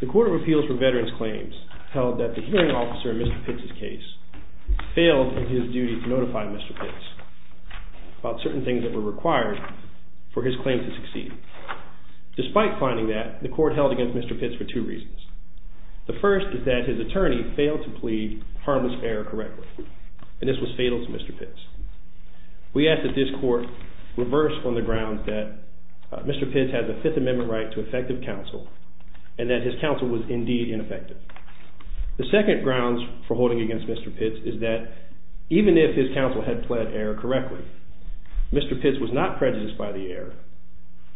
The Court of Appeals for Veterans Claims held that the hearing officer in Mr. Pitts' case failed in his duty to notify Mr. Pitts about certain things that were required for his Mr. Pitts for two reasons. The first is that his attorney failed to plead harmless error correctly and this was fatal to Mr. Pitts. We ask that this court reverse on the grounds that Mr. Pitts has a Fifth Amendment right to effective counsel and that his counsel was indeed ineffective. The second grounds for holding against Mr. Pitts is that even if his counsel had pled error correctly, Mr. Pitts was not prejudiced by the error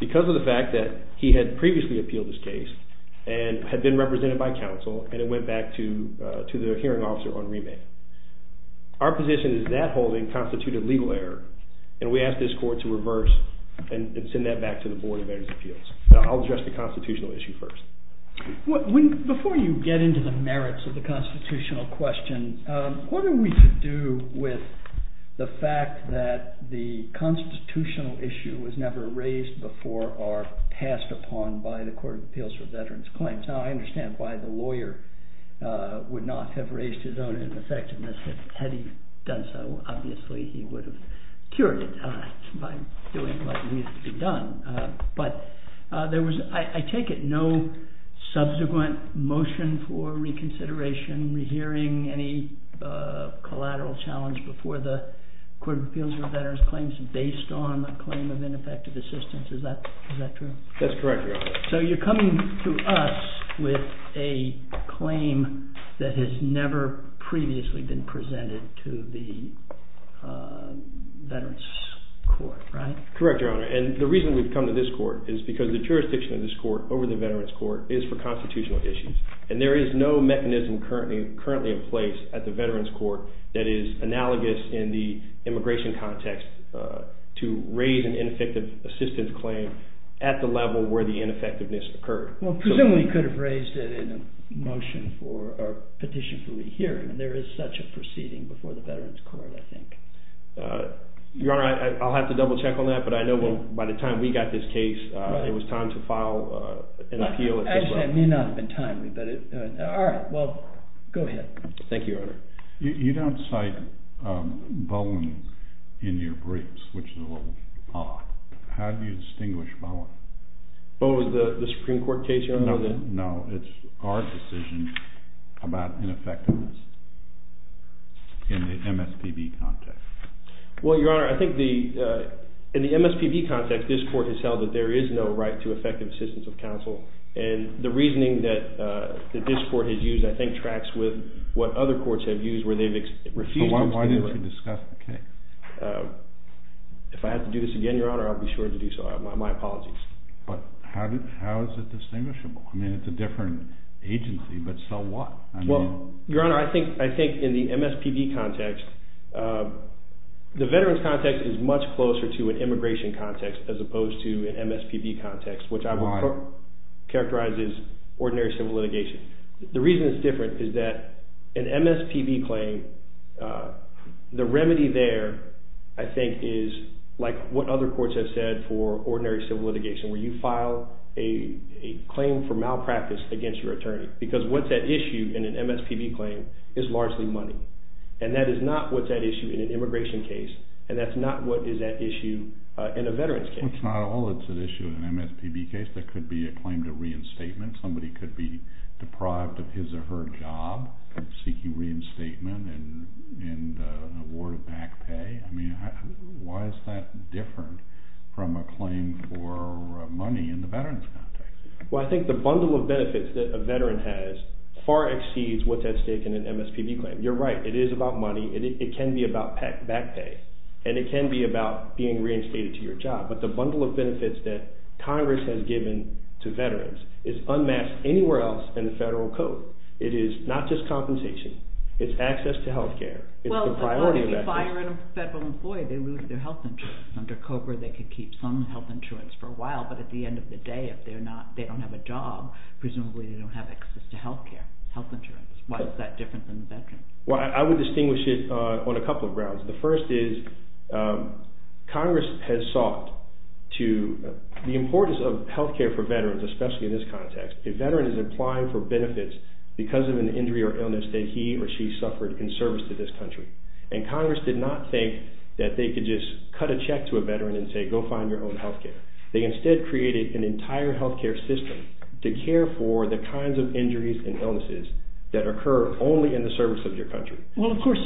because of the fact that he had previously appealed his case and had been represented by counsel and it went back to the hearing officer on remand. Our position is that holding constituted legal error and we ask this court to reverse and send that back to the Board of Veterans Appeals. I'll address the constitutional issue first. Before you get into the merits of the constitutional question, what are we to do with the fact that the constitutional issue was never raised before or passed upon by the Court of Appeals for Veterans Claims? Now I understand why the lawyer would not have raised his own ineffectiveness. Had he done so, obviously he would have cured it by doing what needed to be done. But I take it no subsequent motion for reconsideration, rehearing, any collateral challenge before the Court of Appeals for Veterans Claims based on the claim of ineffective assistance. Is that true? That's correct, Your Honor. So you're coming to us with a claim that has never previously been presented to the Veterans Court, right? Correct, Your Honor. And the reason we've come to this court is because the jurisdiction of this court over the Veterans Court is for constitutional issues. And there is no mechanism currently in place at the Veterans Court that is analogous in the immigration context to raise an ineffective assistance claim at the level where the ineffectiveness occurred. Well, presumably you could have raised it in a petition for rehearing. There is such a proceeding before the Veterans Court, I think. Your Honor, I'll have to double check on that, but I know by the time we got this case, it was time to file an appeal. Actually, it may not have been timely. All right, well, go ahead. Thank you, Your Honor. You don't cite Bowen in your briefs, which is a little odd. How do you distinguish Bowen? Bowen was the Supreme Court case you're referring to? No, it's our decision about ineffectiveness in the MSPB context. Well, Your Honor, I think in the MSPB context, this court has held that there is no right to effective assistance of counsel. And the reasoning that this court has used, I think, tracks with what other courts have used where they've refused to do it. Why didn't you discuss the case? If I have to do this again, Your Honor, I'll be sure to do so. My apologies. But how is it distinguishable? I mean, it's a different agency, but so what? Well, Your Honor, I think in the MSPB context, the veterans context is much closer to an immigration context as opposed to an MSPB context, which I would characterize as ordinary civil litigation. The reason it's different is that an MSPB claim, the remedy there, I think, is like what other courts have said for ordinary civil litigation, where you file a claim for malpractice against your attorney. Because what's at issue in an MSPB claim is largely money. And that is not what's at issue in an immigration case, and that's not what is at issue in a veterans case. Well, it's not all that's at issue in an MSPB case. There could be a claim to reinstatement. Somebody could be deprived of his or her job seeking reinstatement and an award of back pay. I mean, why is that different from a claim for money in the veterans context? Well, I think the bundle of benefits that a veteran has far exceeds what's at stake in an MSPB claim. You're right. It is about money, and it can be about back pay, and it can be about being reinstated to your job. But the bundle of benefits that Congress has given to veterans is unmasked anywhere else in the federal code. It is not just compensation. It's access to health care. Well, if you fire a federal employee, they lose their health insurance. Under COBRA, they could keep some health insurance for a while, but at the end of the day, if they don't have a job, presumably they don't have access to health care, health insurance. Why is that different than the veterans? Well, I would distinguish it on a couple of grounds. The first is Congress has sought to – the importance of health care for veterans, especially in this context, a veteran is applying for benefits because of an injury or illness that he or she suffered in service to this country. And Congress did not think that they could just cut a check to a veteran and say, go find your own health care. They instead created an entire health care system to care for the kinds of injuries and illnesses that occur only in the service of your country. Well, of course,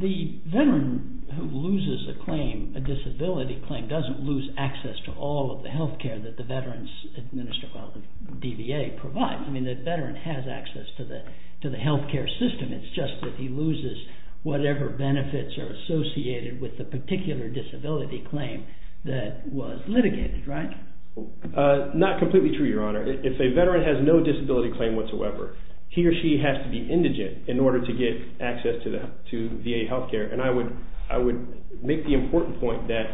the veteran who loses a claim, a disability claim, doesn't lose access to all of the health care that the veterans administer while the DVA provides. I mean, the veteran has access to the health care system. It's just that he loses whatever benefits are associated with the particular disability claim that was litigated, right? Not completely true, Your Honor. If a veteran has no disability claim whatsoever, he or she has to be indigent in order to get access to VA health care. And I would make the important point that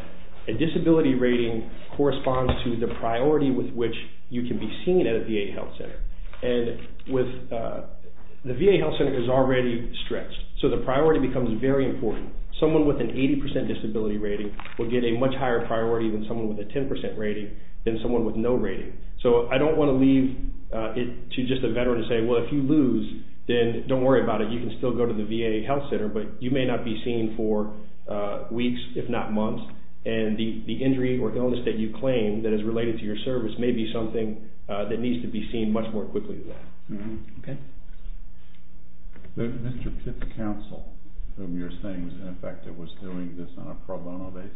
a disability rating corresponds to the priority with which you can be seen at a VA health center. And the VA health center is already stretched, so the priority becomes very important. Someone with an 80% disability rating will get a much higher priority than someone with a 10% rating than someone with no rating. So I don't want to leave it to just a veteran to say, well, if you lose, then don't worry about it. You can still go to the VA health center, but you may not be seen for weeks, if not months, and the injury or illness that you claim that is related to your service may be something that needs to be seen much more quickly than that. Okay? Mr. Pitts' counsel, whom you're saying was in effect doing this on a pro bono basis?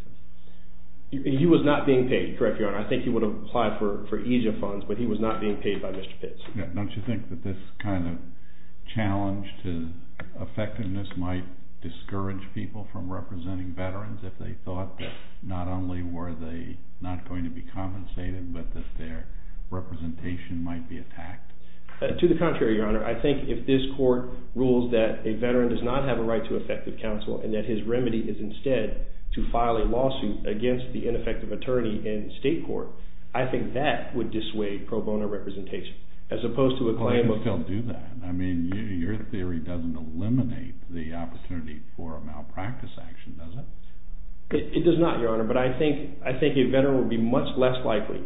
He was not being paid, correct, Your Honor. I think he would apply for EASA funds, but he was not being paid by Mr. Pitts. Don't you think that this kind of challenge to effectiveness might discourage people from representing veterans if they thought that not only were they not going to be compensated, but that their representation might be attacked? To the contrary, Your Honor. I think if this court rules that a veteran does not have a right to effective counsel and that his remedy is instead to file a lawsuit against the ineffective attorney in state court, I think that would dissuade pro bono representation as opposed to a claim of- Why would you still do that? I mean, your theory doesn't eliminate the opportunity for a malpractice action, does it? It does not, Your Honor, but I think a veteran would be much less likely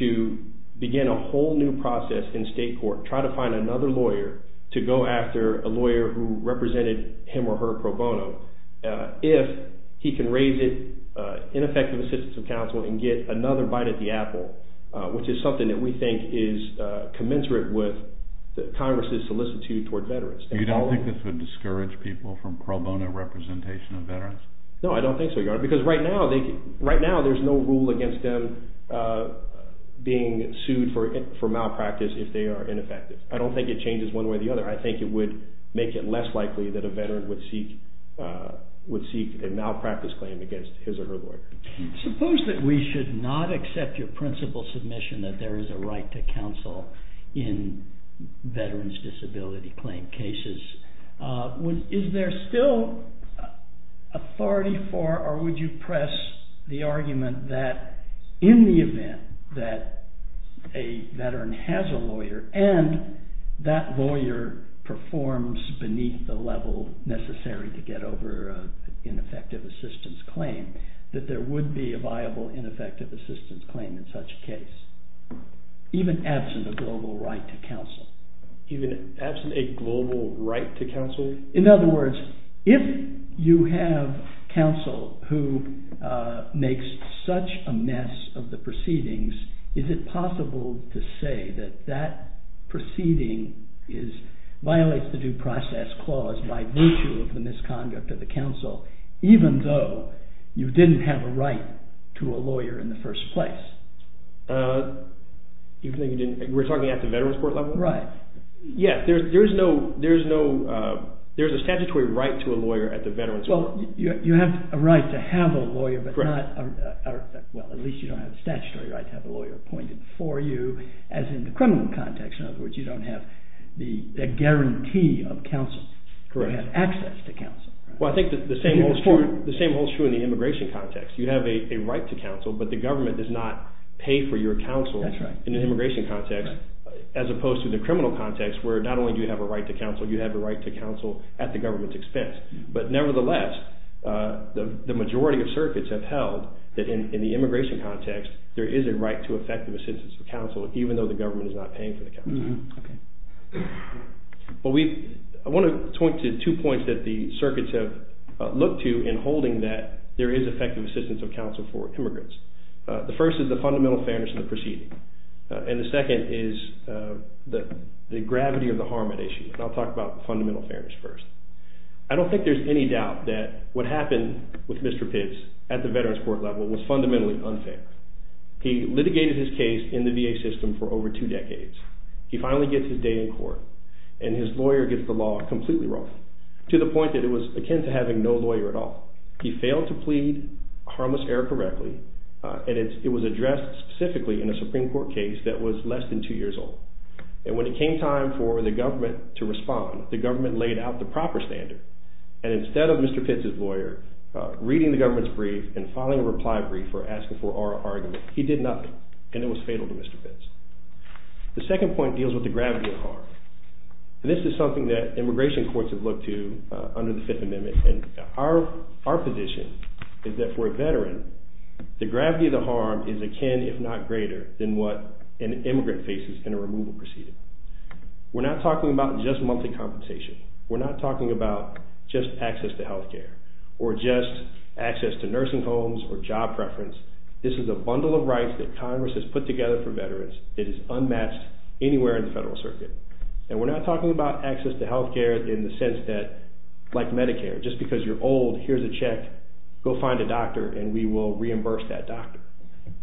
to begin a whole new process in state court, try to find another lawyer to go after a lawyer who represented him or her pro bono if he can raise it, ineffective assistance of counsel, and get another bite at the apple, which is something that we think is commensurate with Congress's solicitude toward veterans. You don't think this would discourage people from pro bono representation of veterans? No, I don't think so, Your Honor, because right now there's no rule against them being sued for malpractice if they are ineffective. I don't think it changes one way or the other. I think it would make it less likely that a veteran would seek a malpractice claim against his or her lawyer. Suppose that we should not accept your principal submission that there is a right to counsel in veterans' disability claim cases. Is there still authority for or would you press the argument that in the event that a veteran has a lawyer and that lawyer performs beneath the level necessary to get over an ineffective assistance claim, that there would be a viable ineffective assistance claim in such a case, even absent a global right to counsel? In other words, if you have counsel who makes such a mess of the proceedings, is it possible to say that that proceeding violates the due process clause by virtue of the misconduct of the counsel, even though you didn't have a right to a lawyer in the first place? Even though you didn't? We're talking at the veterans' court level? Right. Yeah, there's a statutory right to a lawyer at the veterans' court. Well, you have a right to have a lawyer, but not, well, at least you don't have a statutory right to have a lawyer appointed for you, as in the criminal context, in other words, you don't have the guarantee of counsel. Correct. You have access to counsel. Well, I think the same holds true in the immigration context. You have a right to counsel, but the government does not pay for your counsel in the immigration context, as opposed to the criminal context, where not only do you have a right to counsel, you have a right to counsel at the government's expense. But nevertheless, the majority of circuits have held that in the immigration context, there is a right to effective assistance for counsel, even though the government is not paying for the counsel. Well, I want to point to two points that the circuits have looked to in holding that there is effective assistance of counsel for immigrants. The first is the fundamental fairness of the proceeding, and the second is the gravity of the harm at issue, and I'll talk about fundamental fairness first. I don't think there's any doubt that what happened with Mr. Pitts at the veterans' court level was fundamentally unfair. He litigated his case in the VA system for over two decades. He finally gets his day in court, and his lawyer gets the law completely wrong, to the point that it was akin to having no lawyer at all. He failed to plead harmless error correctly, and it was addressed specifically in a Supreme Court case that was less than two years old. And when it came time for the government to respond, the government laid out the proper standard, and instead of Mr. Pitts' lawyer reading the government's brief and filing a reply brief or asking for oral argument, he did nothing, and it was fatal to Mr. Pitts. The second point deals with the gravity of the harm. This is something that immigration courts have looked to under the Fifth Amendment, and our position is that for a veteran, the gravity of the harm is akin, if not greater, than what an immigrant faces in a removal proceeding. We're not talking about just monthly compensation. We're not talking about just access to health care or just access to nursing homes or job preference. This is a bundle of rights that Congress has put together for veterans. It is unmatched anywhere in the federal circuit. And we're not talking about access to health care in the sense that, like Medicare, just because you're old, here's a check, go find a doctor, and we will reimburse that doctor.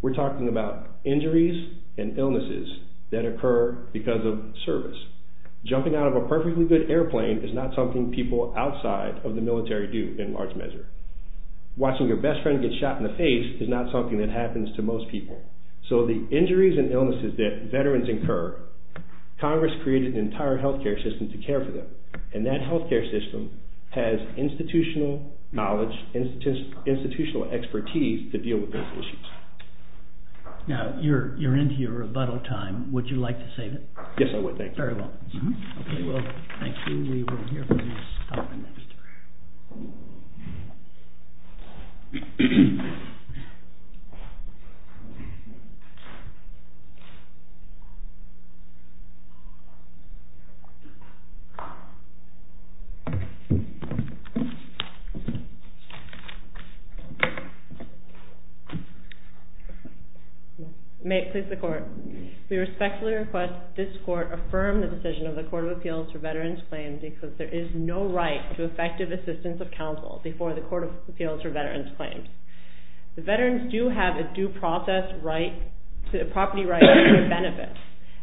We're talking about injuries and illnesses that occur because of service. Jumping out of a perfectly good airplane is not something people outside of the military do in large measure. Watching your best friend get shot in the face is not something that happens to most people. So the injuries and illnesses that veterans incur, Congress created an entire health care system to care for them, and that health care system has institutional knowledge, institutional expertise to deal with those issues. Now, you're into your rebuttal time. Would you like to save it? Yes, I would, thank you. Very well. Okay, well, thank you. We will hear from you next. May it please the Court. We respectfully request this Court affirm the decision of the Court of Appeals for Veterans Claims because there is no right to effective assistance of counsel before the Court of Appeals for Veterans Claims. The veterans do have a due process right to a property right to a benefit,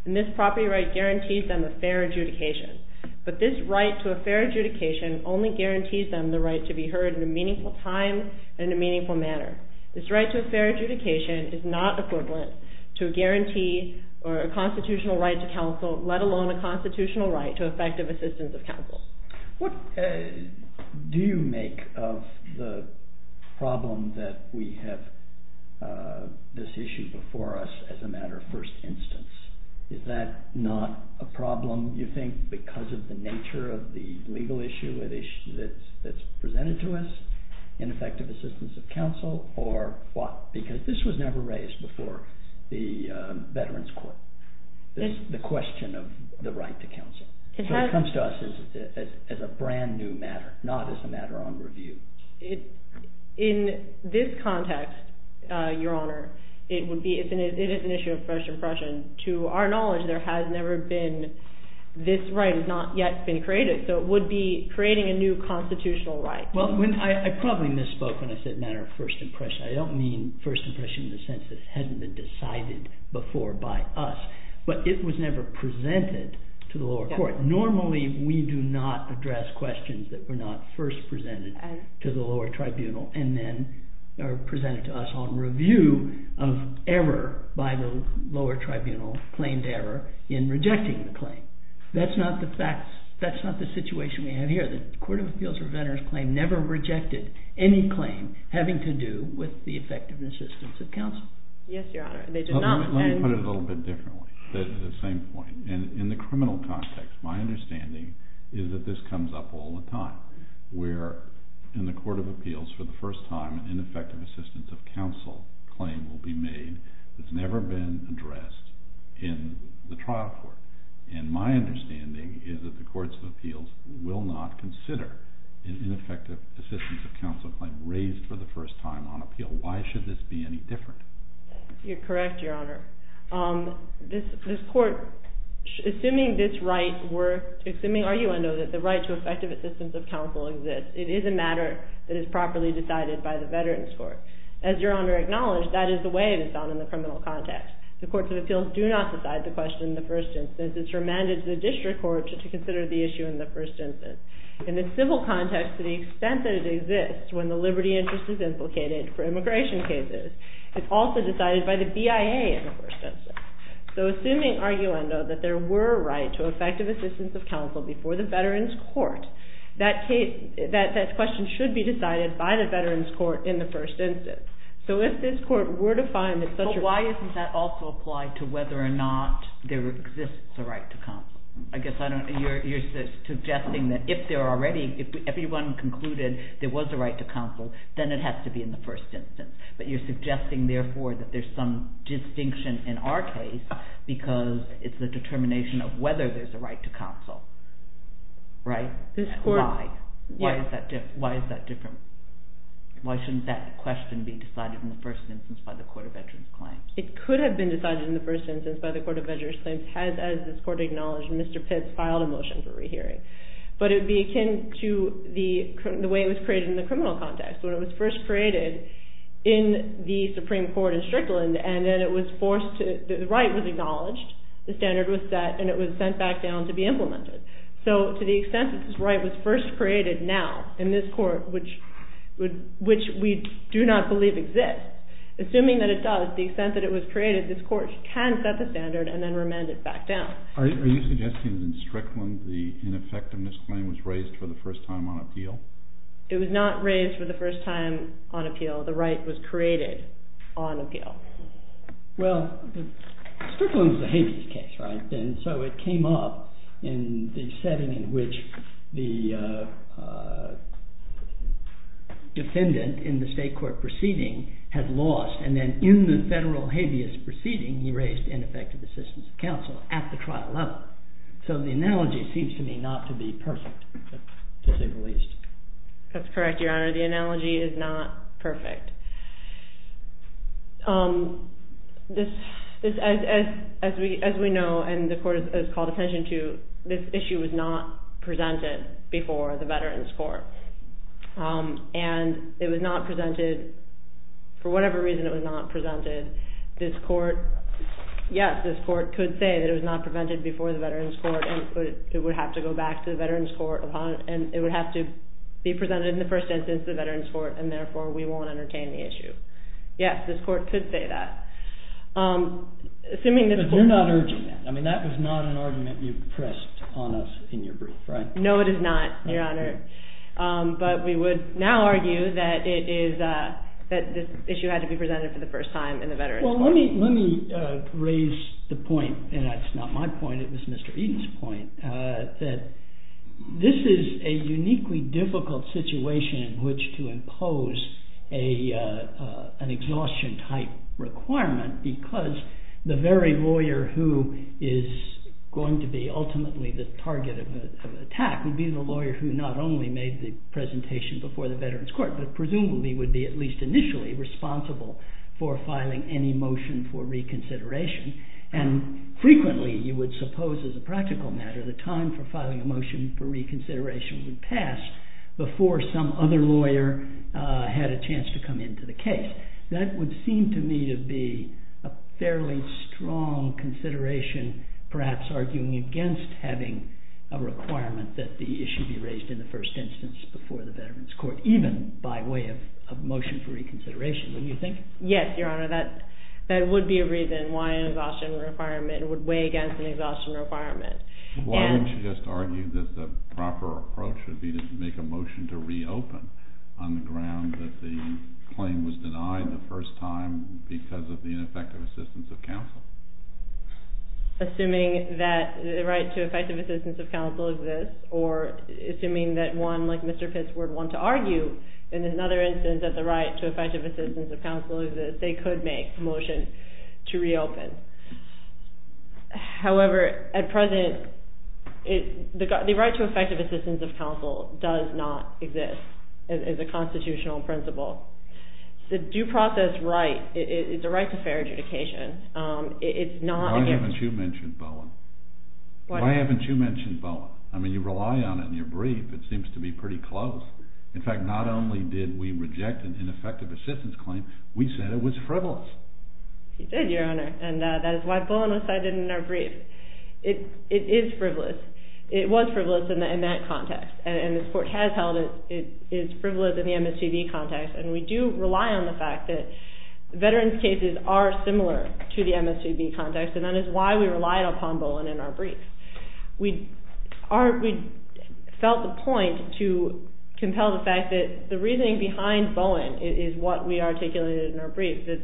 and this property right guarantees them a fair adjudication. But this right to a fair adjudication only guarantees them the right to be heard in a meaningful time and in a meaningful manner. This right to a fair adjudication is not equivalent to a guarantee or a constitutional right to counsel, let alone a constitutional right to effective assistance of counsel. What do you make of the problem that we have this issue before us as a matter of first instance? Is that not a problem, you think, because of the nature of the legal issue that's presented to us, ineffective assistance of counsel, or what? Because this was never raised before the Veterans Court, the question of the right to counsel. So it comes to us as a brand new matter, not as a matter on review. In this context, Your Honor, it is an issue of fresh impression. To our knowledge, there has never been this right has not yet been created, so it would be creating a new constitutional right. Well, I probably misspoke when I said matter of first impression. I don't mean first impression in the sense that it hasn't been decided before by us, but it was never presented to the lower court. Normally, we do not address questions that were not first presented to the lower tribunal and then are presented to us on review of error by the lower tribunal, claimed error, in rejecting the claim. That's not the situation we have here. The Court of Appeals for Veterans Claim never rejected any claim having to do with the effective assistance of counsel. Yes, Your Honor. Let me put it a little bit differently at the same point. In the criminal context, my understanding is that this comes up all the time, where in the Court of Appeals for the first time an ineffective assistance of counsel claim will be made that's never been addressed in the trial court. And my understanding is that the Courts of Appeals will not consider an ineffective assistance of counsel claim raised for the first time on appeal. Why should this be any different? You're correct, Your Honor. This court, assuming this right were, assuming arguendo, that the right to effective assistance of counsel exists, it is a matter that is properly decided by the Veterans Court. As Your Honor acknowledged, that is the way it is done in the criminal context. The Courts of Appeals do not decide the question in the first instance. It's remanded to the district court to consider the issue in the first instance. In the civil context, to the extent that it exists when the liberty interest is implicated for immigration cases, it's also decided by the BIA in the first instance. So assuming arguendo that there were a right to effective assistance of counsel before the Veterans Court, that question should be decided by the Veterans Court in the first instance. So if this court were to find that such a... But why doesn't that also apply to whether or not there exists a right to counsel? I guess you're suggesting that if everyone concluded there was a right to counsel, then it has to be in the first instance. But you're suggesting, therefore, that there's some distinction in our case because it's the determination of whether there's a right to counsel, right? This court... Why? Why is that different? Why shouldn't that question be decided in the first instance by the Court of Veterans Claims? It could have been decided in the first instance by the Court of Veterans Claims had, as this court acknowledged, Mr. Pitts filed a motion for rehearing. But it would be akin to the way it was created in the criminal context. When it was first created in the Supreme Court in Strickland, and then it was forced to... the right was acknowledged, the standard was set, and it was sent back down to be implemented. So to the extent that this right was first created now in this court, which we do not believe exists, assuming that it does, the extent that it was created, this court can set the standard and then remand it back down. Are you suggesting that in Strickland, the ineffectiveness claim was raised for the first time on appeal? It was not raised for the first time on appeal. The right was created on appeal. Well, Strickland is a habeas case, right? So it came up in the setting in which the defendant in the state court proceeding had lost, and then in the federal habeas proceeding he raised ineffective assistance of counsel at the trial level. So the analogy seems to me not to be perfect, to say the least. That's correct, Your Honor. The analogy is not perfect. As we know, and the court has called attention to, this issue was not presented before the Veterans Court. And it was not presented, for whatever reason it was not presented, this court, yes, this court could say that it was not presented before the Veterans Court and it would have to go back to the Veterans Court, and it would have to be presented in the first instance to the Veterans Court, and therefore we won't entertain it. Yes, this court could say that. But you're not urging that. That was not an argument you pressed on us in your brief, right? No, it is not, Your Honor. But we would now argue that this issue had to be presented for the first time in the Veterans Court. Well, let me raise the point, and that's not my point, it was Mr. Eaton's point, that this is a uniquely difficult situation in which to impose an exhaustion-type requirement because the very lawyer who is going to be ultimately the target of attack would be the lawyer who not only made the presentation before the Veterans Court, but presumably would be at least initially responsible for filing any motion for reconsideration. And frequently you would suppose, as a practical matter, the time for filing a motion for reconsideration would pass before some other lawyer had a chance to come into the case. That would seem to me to be a fairly strong consideration, perhaps arguing against having a requirement that the issue be raised in the first instance before the Veterans Court, even by way of a motion for reconsideration, don't you think? Yes, Your Honor, that would be a reason why an exhaustion requirement would weigh against an exhaustion requirement. Why don't you just argue that the proper approach would be to make a motion to reopen on the ground that the claim was denied the first time because of the ineffective assistance of counsel? Assuming that the right to effective assistance of counsel exists, or assuming that one, like Mr. Pitts, would want to argue in another instance that the right to effective assistance of counsel exists, they could make a motion to reopen. However, at present, the right to effective assistance of counsel does not exist as a constitutional principle. The due process right is a right to fair adjudication. Why haven't you mentioned Bowen? Why haven't you mentioned Bowen? I mean, you rely on it in your brief. It seems to be pretty close. In fact, not only did we reject an ineffective assistance claim, we said it was frivolous. You did, Your Honor, and that is why Bowen was cited in our brief. It is frivolous. It was frivolous in that context, and this Court has held it is frivolous in the MSCB context, and we do rely on the fact that veterans' cases are similar to the MSCB context, and that is why we relied upon Bowen in our brief. We felt the point to compel the fact that the reasoning behind Bowen is what we articulated in our brief, that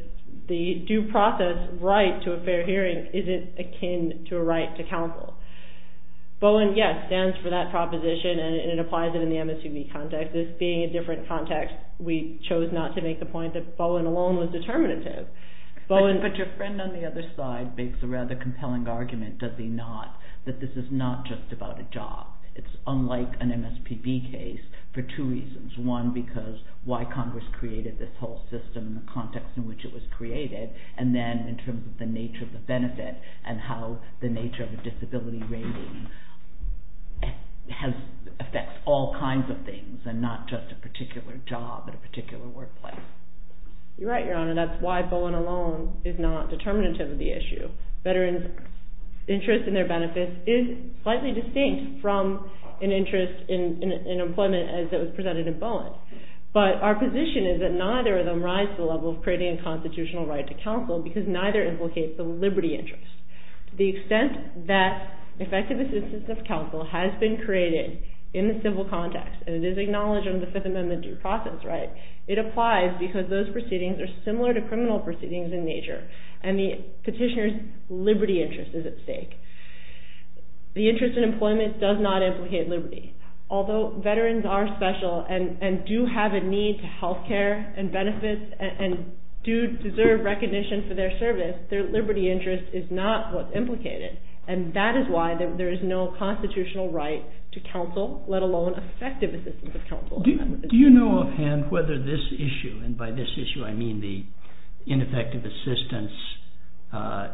the due process right to a fair hearing isn't akin to a right to counsel. Bowen, yes, stands for that proposition, and it applies in the MSCB context. This being a different context, we chose not to make the point that Bowen alone was determinative. But your friend on the other side makes a rather compelling argument, does he not, that this is not just about a job. It's unlike an MSPB case for two reasons. One, because why Congress created this whole system and the context in which it was created, and then in terms of the nature of the benefit and how the nature of the disability rating affects all kinds of things and not just a particular job at a particular workplace. You're right, Your Honor. That's why Bowen alone is not determinative of the issue. Veterans' interest in their benefits is slightly distinct from an interest in employment as it was presented in Bowen. But our position is that neither of them rise to the level of creating a constitutional right to counsel because neither implicates the liberty interest. To the extent that effective assistance of counsel has been created in the civil context, and it is acknowledged in the Fifth Amendment due process right, it applies because those proceedings are similar to criminal proceedings in nature and the petitioner's liberty interest is at stake. The interest in employment does not implicate liberty. Although veterans are special and do have a need to health care and benefits and do deserve recognition for their service, their liberty interest is not what's implicated, and that is why there is no constitutional right to counsel, let alone effective assistance of counsel. Do you know offhand whether this issue, and by this issue I mean the ineffective assistance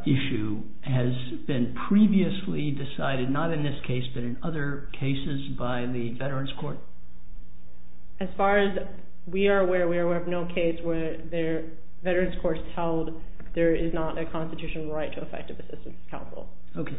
issue, has been previously decided, not in this case, but in other cases by the veterans' court? As far as we are aware, we are aware of no case where the veterans' court held there is not a constitutional right to effective assistance of counsel. Okay.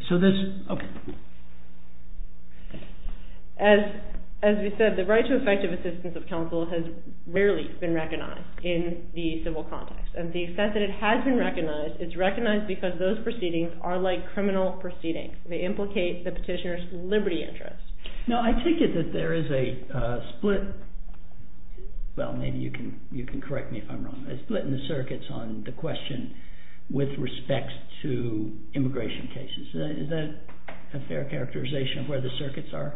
As we said, the right to effective assistance of counsel has rarely been recognized in the civil context, and to the extent that it has been recognized, it's recognized because those proceedings are like criminal proceedings. They implicate the petitioner's liberty interest. Now, I take it that there is a split, well, maybe you can correct me if I'm wrong, a split in the circuits on the question with respect to immigration cases. Is that a fair characterization of where the circuits are?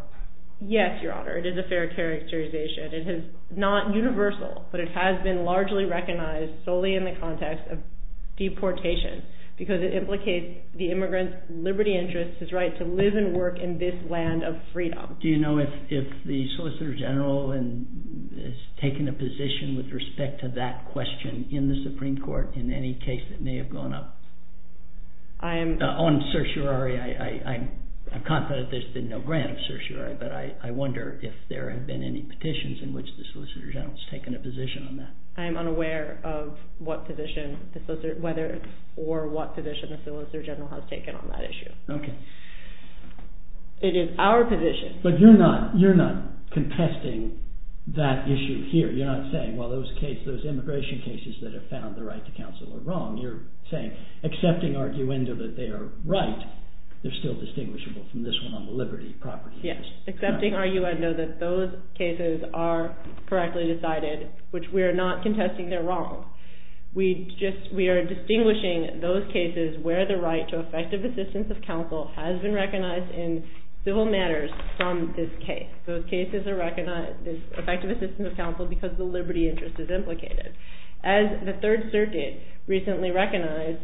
Yes, Your Honor, it is a fair characterization. It is not universal, but it has been largely recognized solely in the context of deportation, because it implicates the immigrant's liberty interest, his right to live and work in this land of freedom. Do you know if the Solicitor General has taken a position with respect to that question in the Supreme Court in any case that may have gone up? On certiorari, I'm confident there's been no grant of certiorari, but I wonder if there have been any petitions in which the Solicitor General has taken a position on that. I am unaware of what position, whether or what position the Solicitor General has taken on that issue. Okay. It is our position. But you're not contesting that issue here. You're not saying, well, those immigration cases that have found the right to counsel are wrong. You're saying, accepting arguendo that they are right, they're still distinguishable from this one on the liberty property case. Yes, accepting arguendo that those cases are correctly decided, which we are not contesting they're wrong. We are distinguishing those cases where the right to effective assistance of counsel has been recognized in civil matters from this case. Those cases are recognized as effective assistance of counsel because the liberty interest is implicated. As the Third Circuit recently recognized,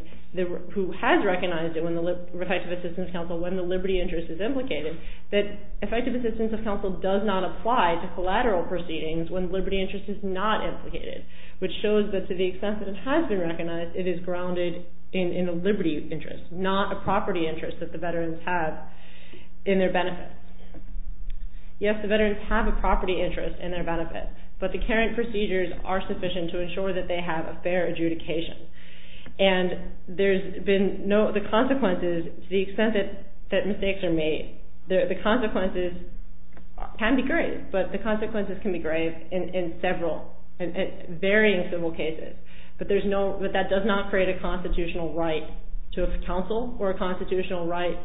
who has recognized it when the effective assistance of counsel, when the liberty interest is implicated, that effective assistance of counsel does not apply to collateral proceedings when liberty interest is not implicated, which shows that to the extent that it has been recognized, it is grounded in a liberty interest, not a property interest that the veterans have in their benefit. Yes, the veterans have a property interest in their benefit, but the current procedures are sufficient to ensure that they have a fair adjudication. And there's been no, the consequences, to the extent that mistakes are made, the consequences can be grave, but the consequences can be grave in several, in varying civil cases, but that does not create a constitutional right to counsel or a constitutional right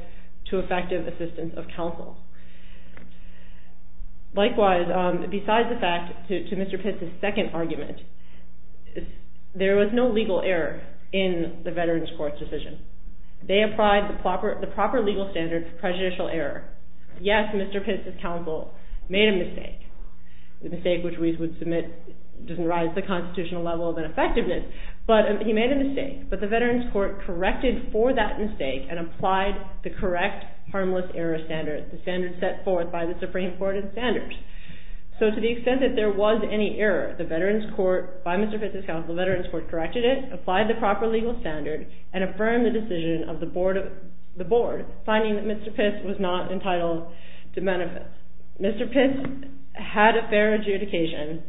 to effective assistance of counsel. Likewise, besides the fact, to Mr. Pitts' second argument, there was no legal error in the Veterans Court's decision. They applied the proper legal standard for prejudicial error. Yes, Mr. Pitts' counsel made a mistake, a mistake which we would submit doesn't rise to the constitutional level of an effectiveness, but he made a mistake. But the Veterans Court corrected for that mistake and applied the correct harmless error standard, the standard set forth by the Supreme Court of Standards. So to the extent that there was any error, the Veterans Court, by Mr. Pitts' counsel, the Veterans Court corrected it, applied the proper legal standard, and affirmed the decision of the Board, finding that Mr. Pitts was not entitled to benefit. Mr. Pitts had a fair adjudication.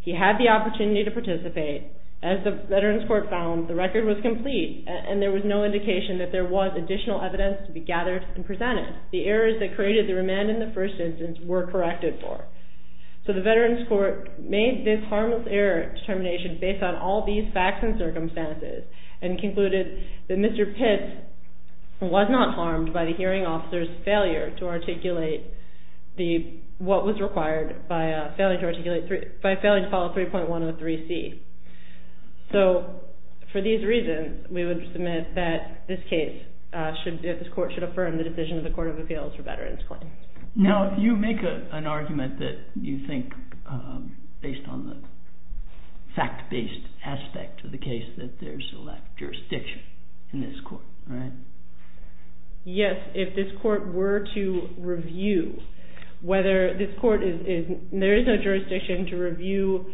He had the opportunity to participate. As the Veterans Court found, the record was complete, and there was no indication that there was additional evidence to be gathered and presented. The errors that created the remand in the first instance were corrected for. So the Veterans Court made this harmless error determination based on all these facts and circumstances and concluded that Mr. Pitts was not harmed by the hearing officer's failure to articulate what was required by a failure to follow 3.103C. So for these reasons, we would submit that this case, this court should affirm the decision of the Court of Appeals for Veterans Claims. Now, you make an argument that you think, based on the fact-based aspect of the case, that there's a lack of jurisdiction in this court, right? Yes, if this court were to review whether this court is... There is no jurisdiction to review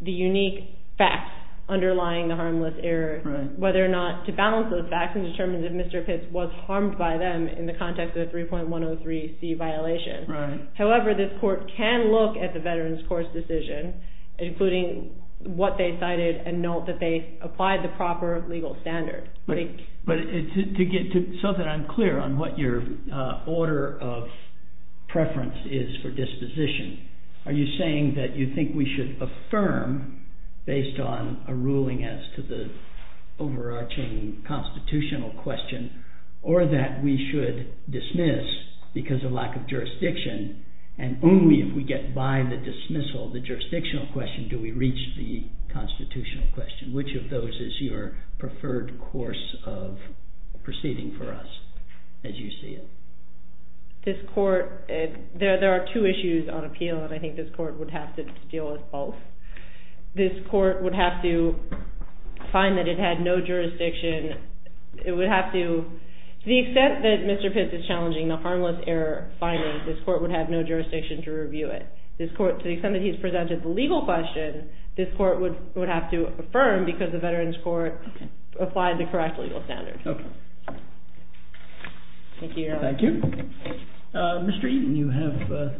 the unique facts underlying the harmless error, whether or not to balance those facts and determine if Mr. Pitts was harmed by them in the context of the 3.103C violation. However, this court can look at the Veterans Court's decision, including what they cited, and note that they applied the proper legal standards. But so that I'm clear on what your order of preference is for disposition, are you saying that you think we should affirm, based on a ruling as to the overarching constitutional question, or that we should dismiss because of lack of jurisdiction, and only if we get by the dismissal, the jurisdictional question, do we reach the constitutional question? Which of those is your preferred course of proceeding for us, as you see it? This court... There are two issues on appeal, and I think this court would have to deal with both. This court would have to find that it had no jurisdiction. It would have to... To the extent that Mr. Pitts is challenging the harmless error finding, this court would have no jurisdiction to review it. To the extent that he's presented the legal question, this court would have to affirm because the Veterans Court applied the correct legal standards. Okay. Thank you, Your Honor. Thank you. Mr. Eaton, you have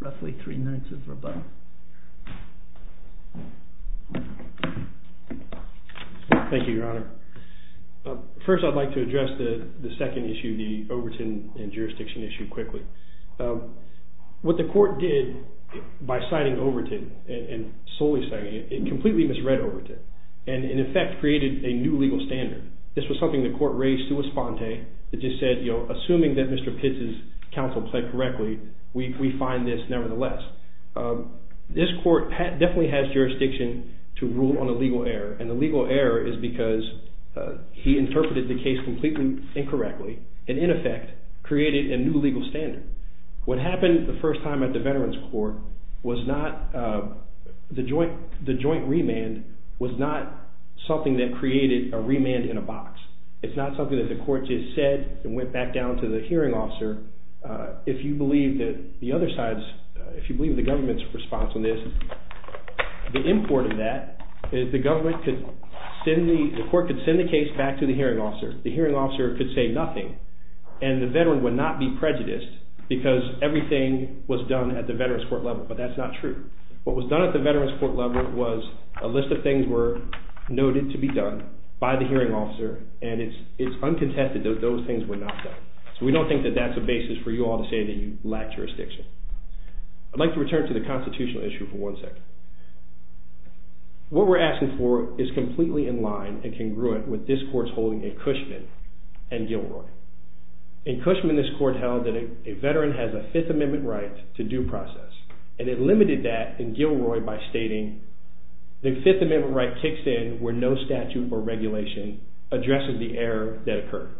roughly three minutes of rebuttal. Thank you, Your Honor. First, I'd like to address the second issue, the Overton and jurisdiction issue, quickly. What the court did by citing Overton, and solely citing it, it completely misread Overton, and, in effect, created a new legal standard. This was something the court raised to a sponte. It just said, you know, assuming that Mr. Pitts' counsel played correctly, we find this nevertheless. This court definitely has jurisdiction to rule on a legal error, and the legal error is because he interpreted the case completely incorrectly, and, in effect, created a new legal standard. What happened the first time at the Veterans Court was not... The joint remand was not something that created a remand in a box. It's not something that the court just said and went back down to the hearing officer. If you believe that the other side's... If you believe the government's response on this, the import of that is the government could send the... The court could send the case back to the hearing officer. The hearing officer could say nothing, and the veteran would not be prejudiced because everything was done at the Veterans Court level, but that's not true. What was done at the Veterans Court level was a list of things were noted to be done by the hearing officer, and it's uncontested that those things were not done. So we don't think that that's a basis for you all to say that you lack jurisdiction. I'd like to return to the constitutional issue for one second. What we're asking for is completely in line and congruent with this court's holding in Cushman and Gilroy. In Cushman, this court held that a veteran has a Fifth Amendment right to due process, and it limited that in Gilroy by stating the Fifth Amendment right kicks in where no statute or regulation addresses the error that occurred,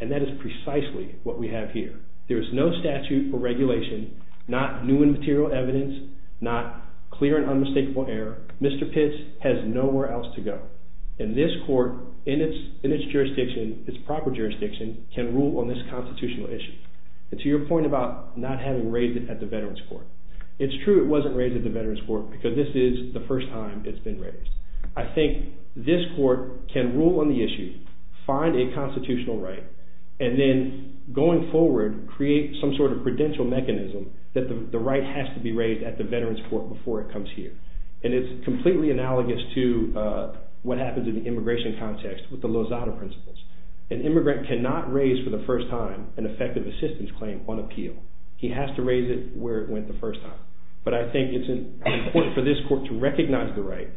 and that is precisely what we have here. There is no statute or regulation, not new and material evidence, not clear and unmistakable error. Mr. Pitts has nowhere else to go. And this court, in its jurisdiction, its proper jurisdiction, can rule on this constitutional issue. And to your point about not having raised it at the Veterans Court, it's true it wasn't raised at the Veterans Court because this is the first time it's been raised. I think this court can rule on the issue, find a constitutional right, and then, going forward, create some sort of prudential mechanism that the right has to be raised at the Veterans Court before it comes here. And it's completely analogous to what happens in the immigration context with the Lozada Principles. An immigrant cannot raise for the first time an effective assistance claim on appeal. He has to raise it where it went the first time. But I think it's important for this court to recognize the right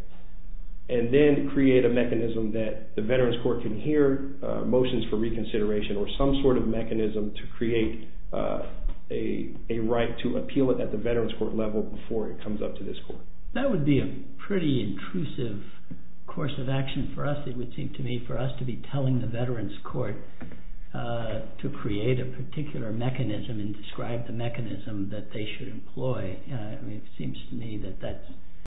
and then create a mechanism that the Veterans Court can hear motions for reconsideration or some sort of mechanism to create a right to appeal it at the Veterans Court level before it comes up to this court. That would be a pretty intrusive course of action for us, it would seem to me, for us to be telling the Veterans Court to create a particular mechanism and describe the mechanism that they should employ. It seems to me that that's...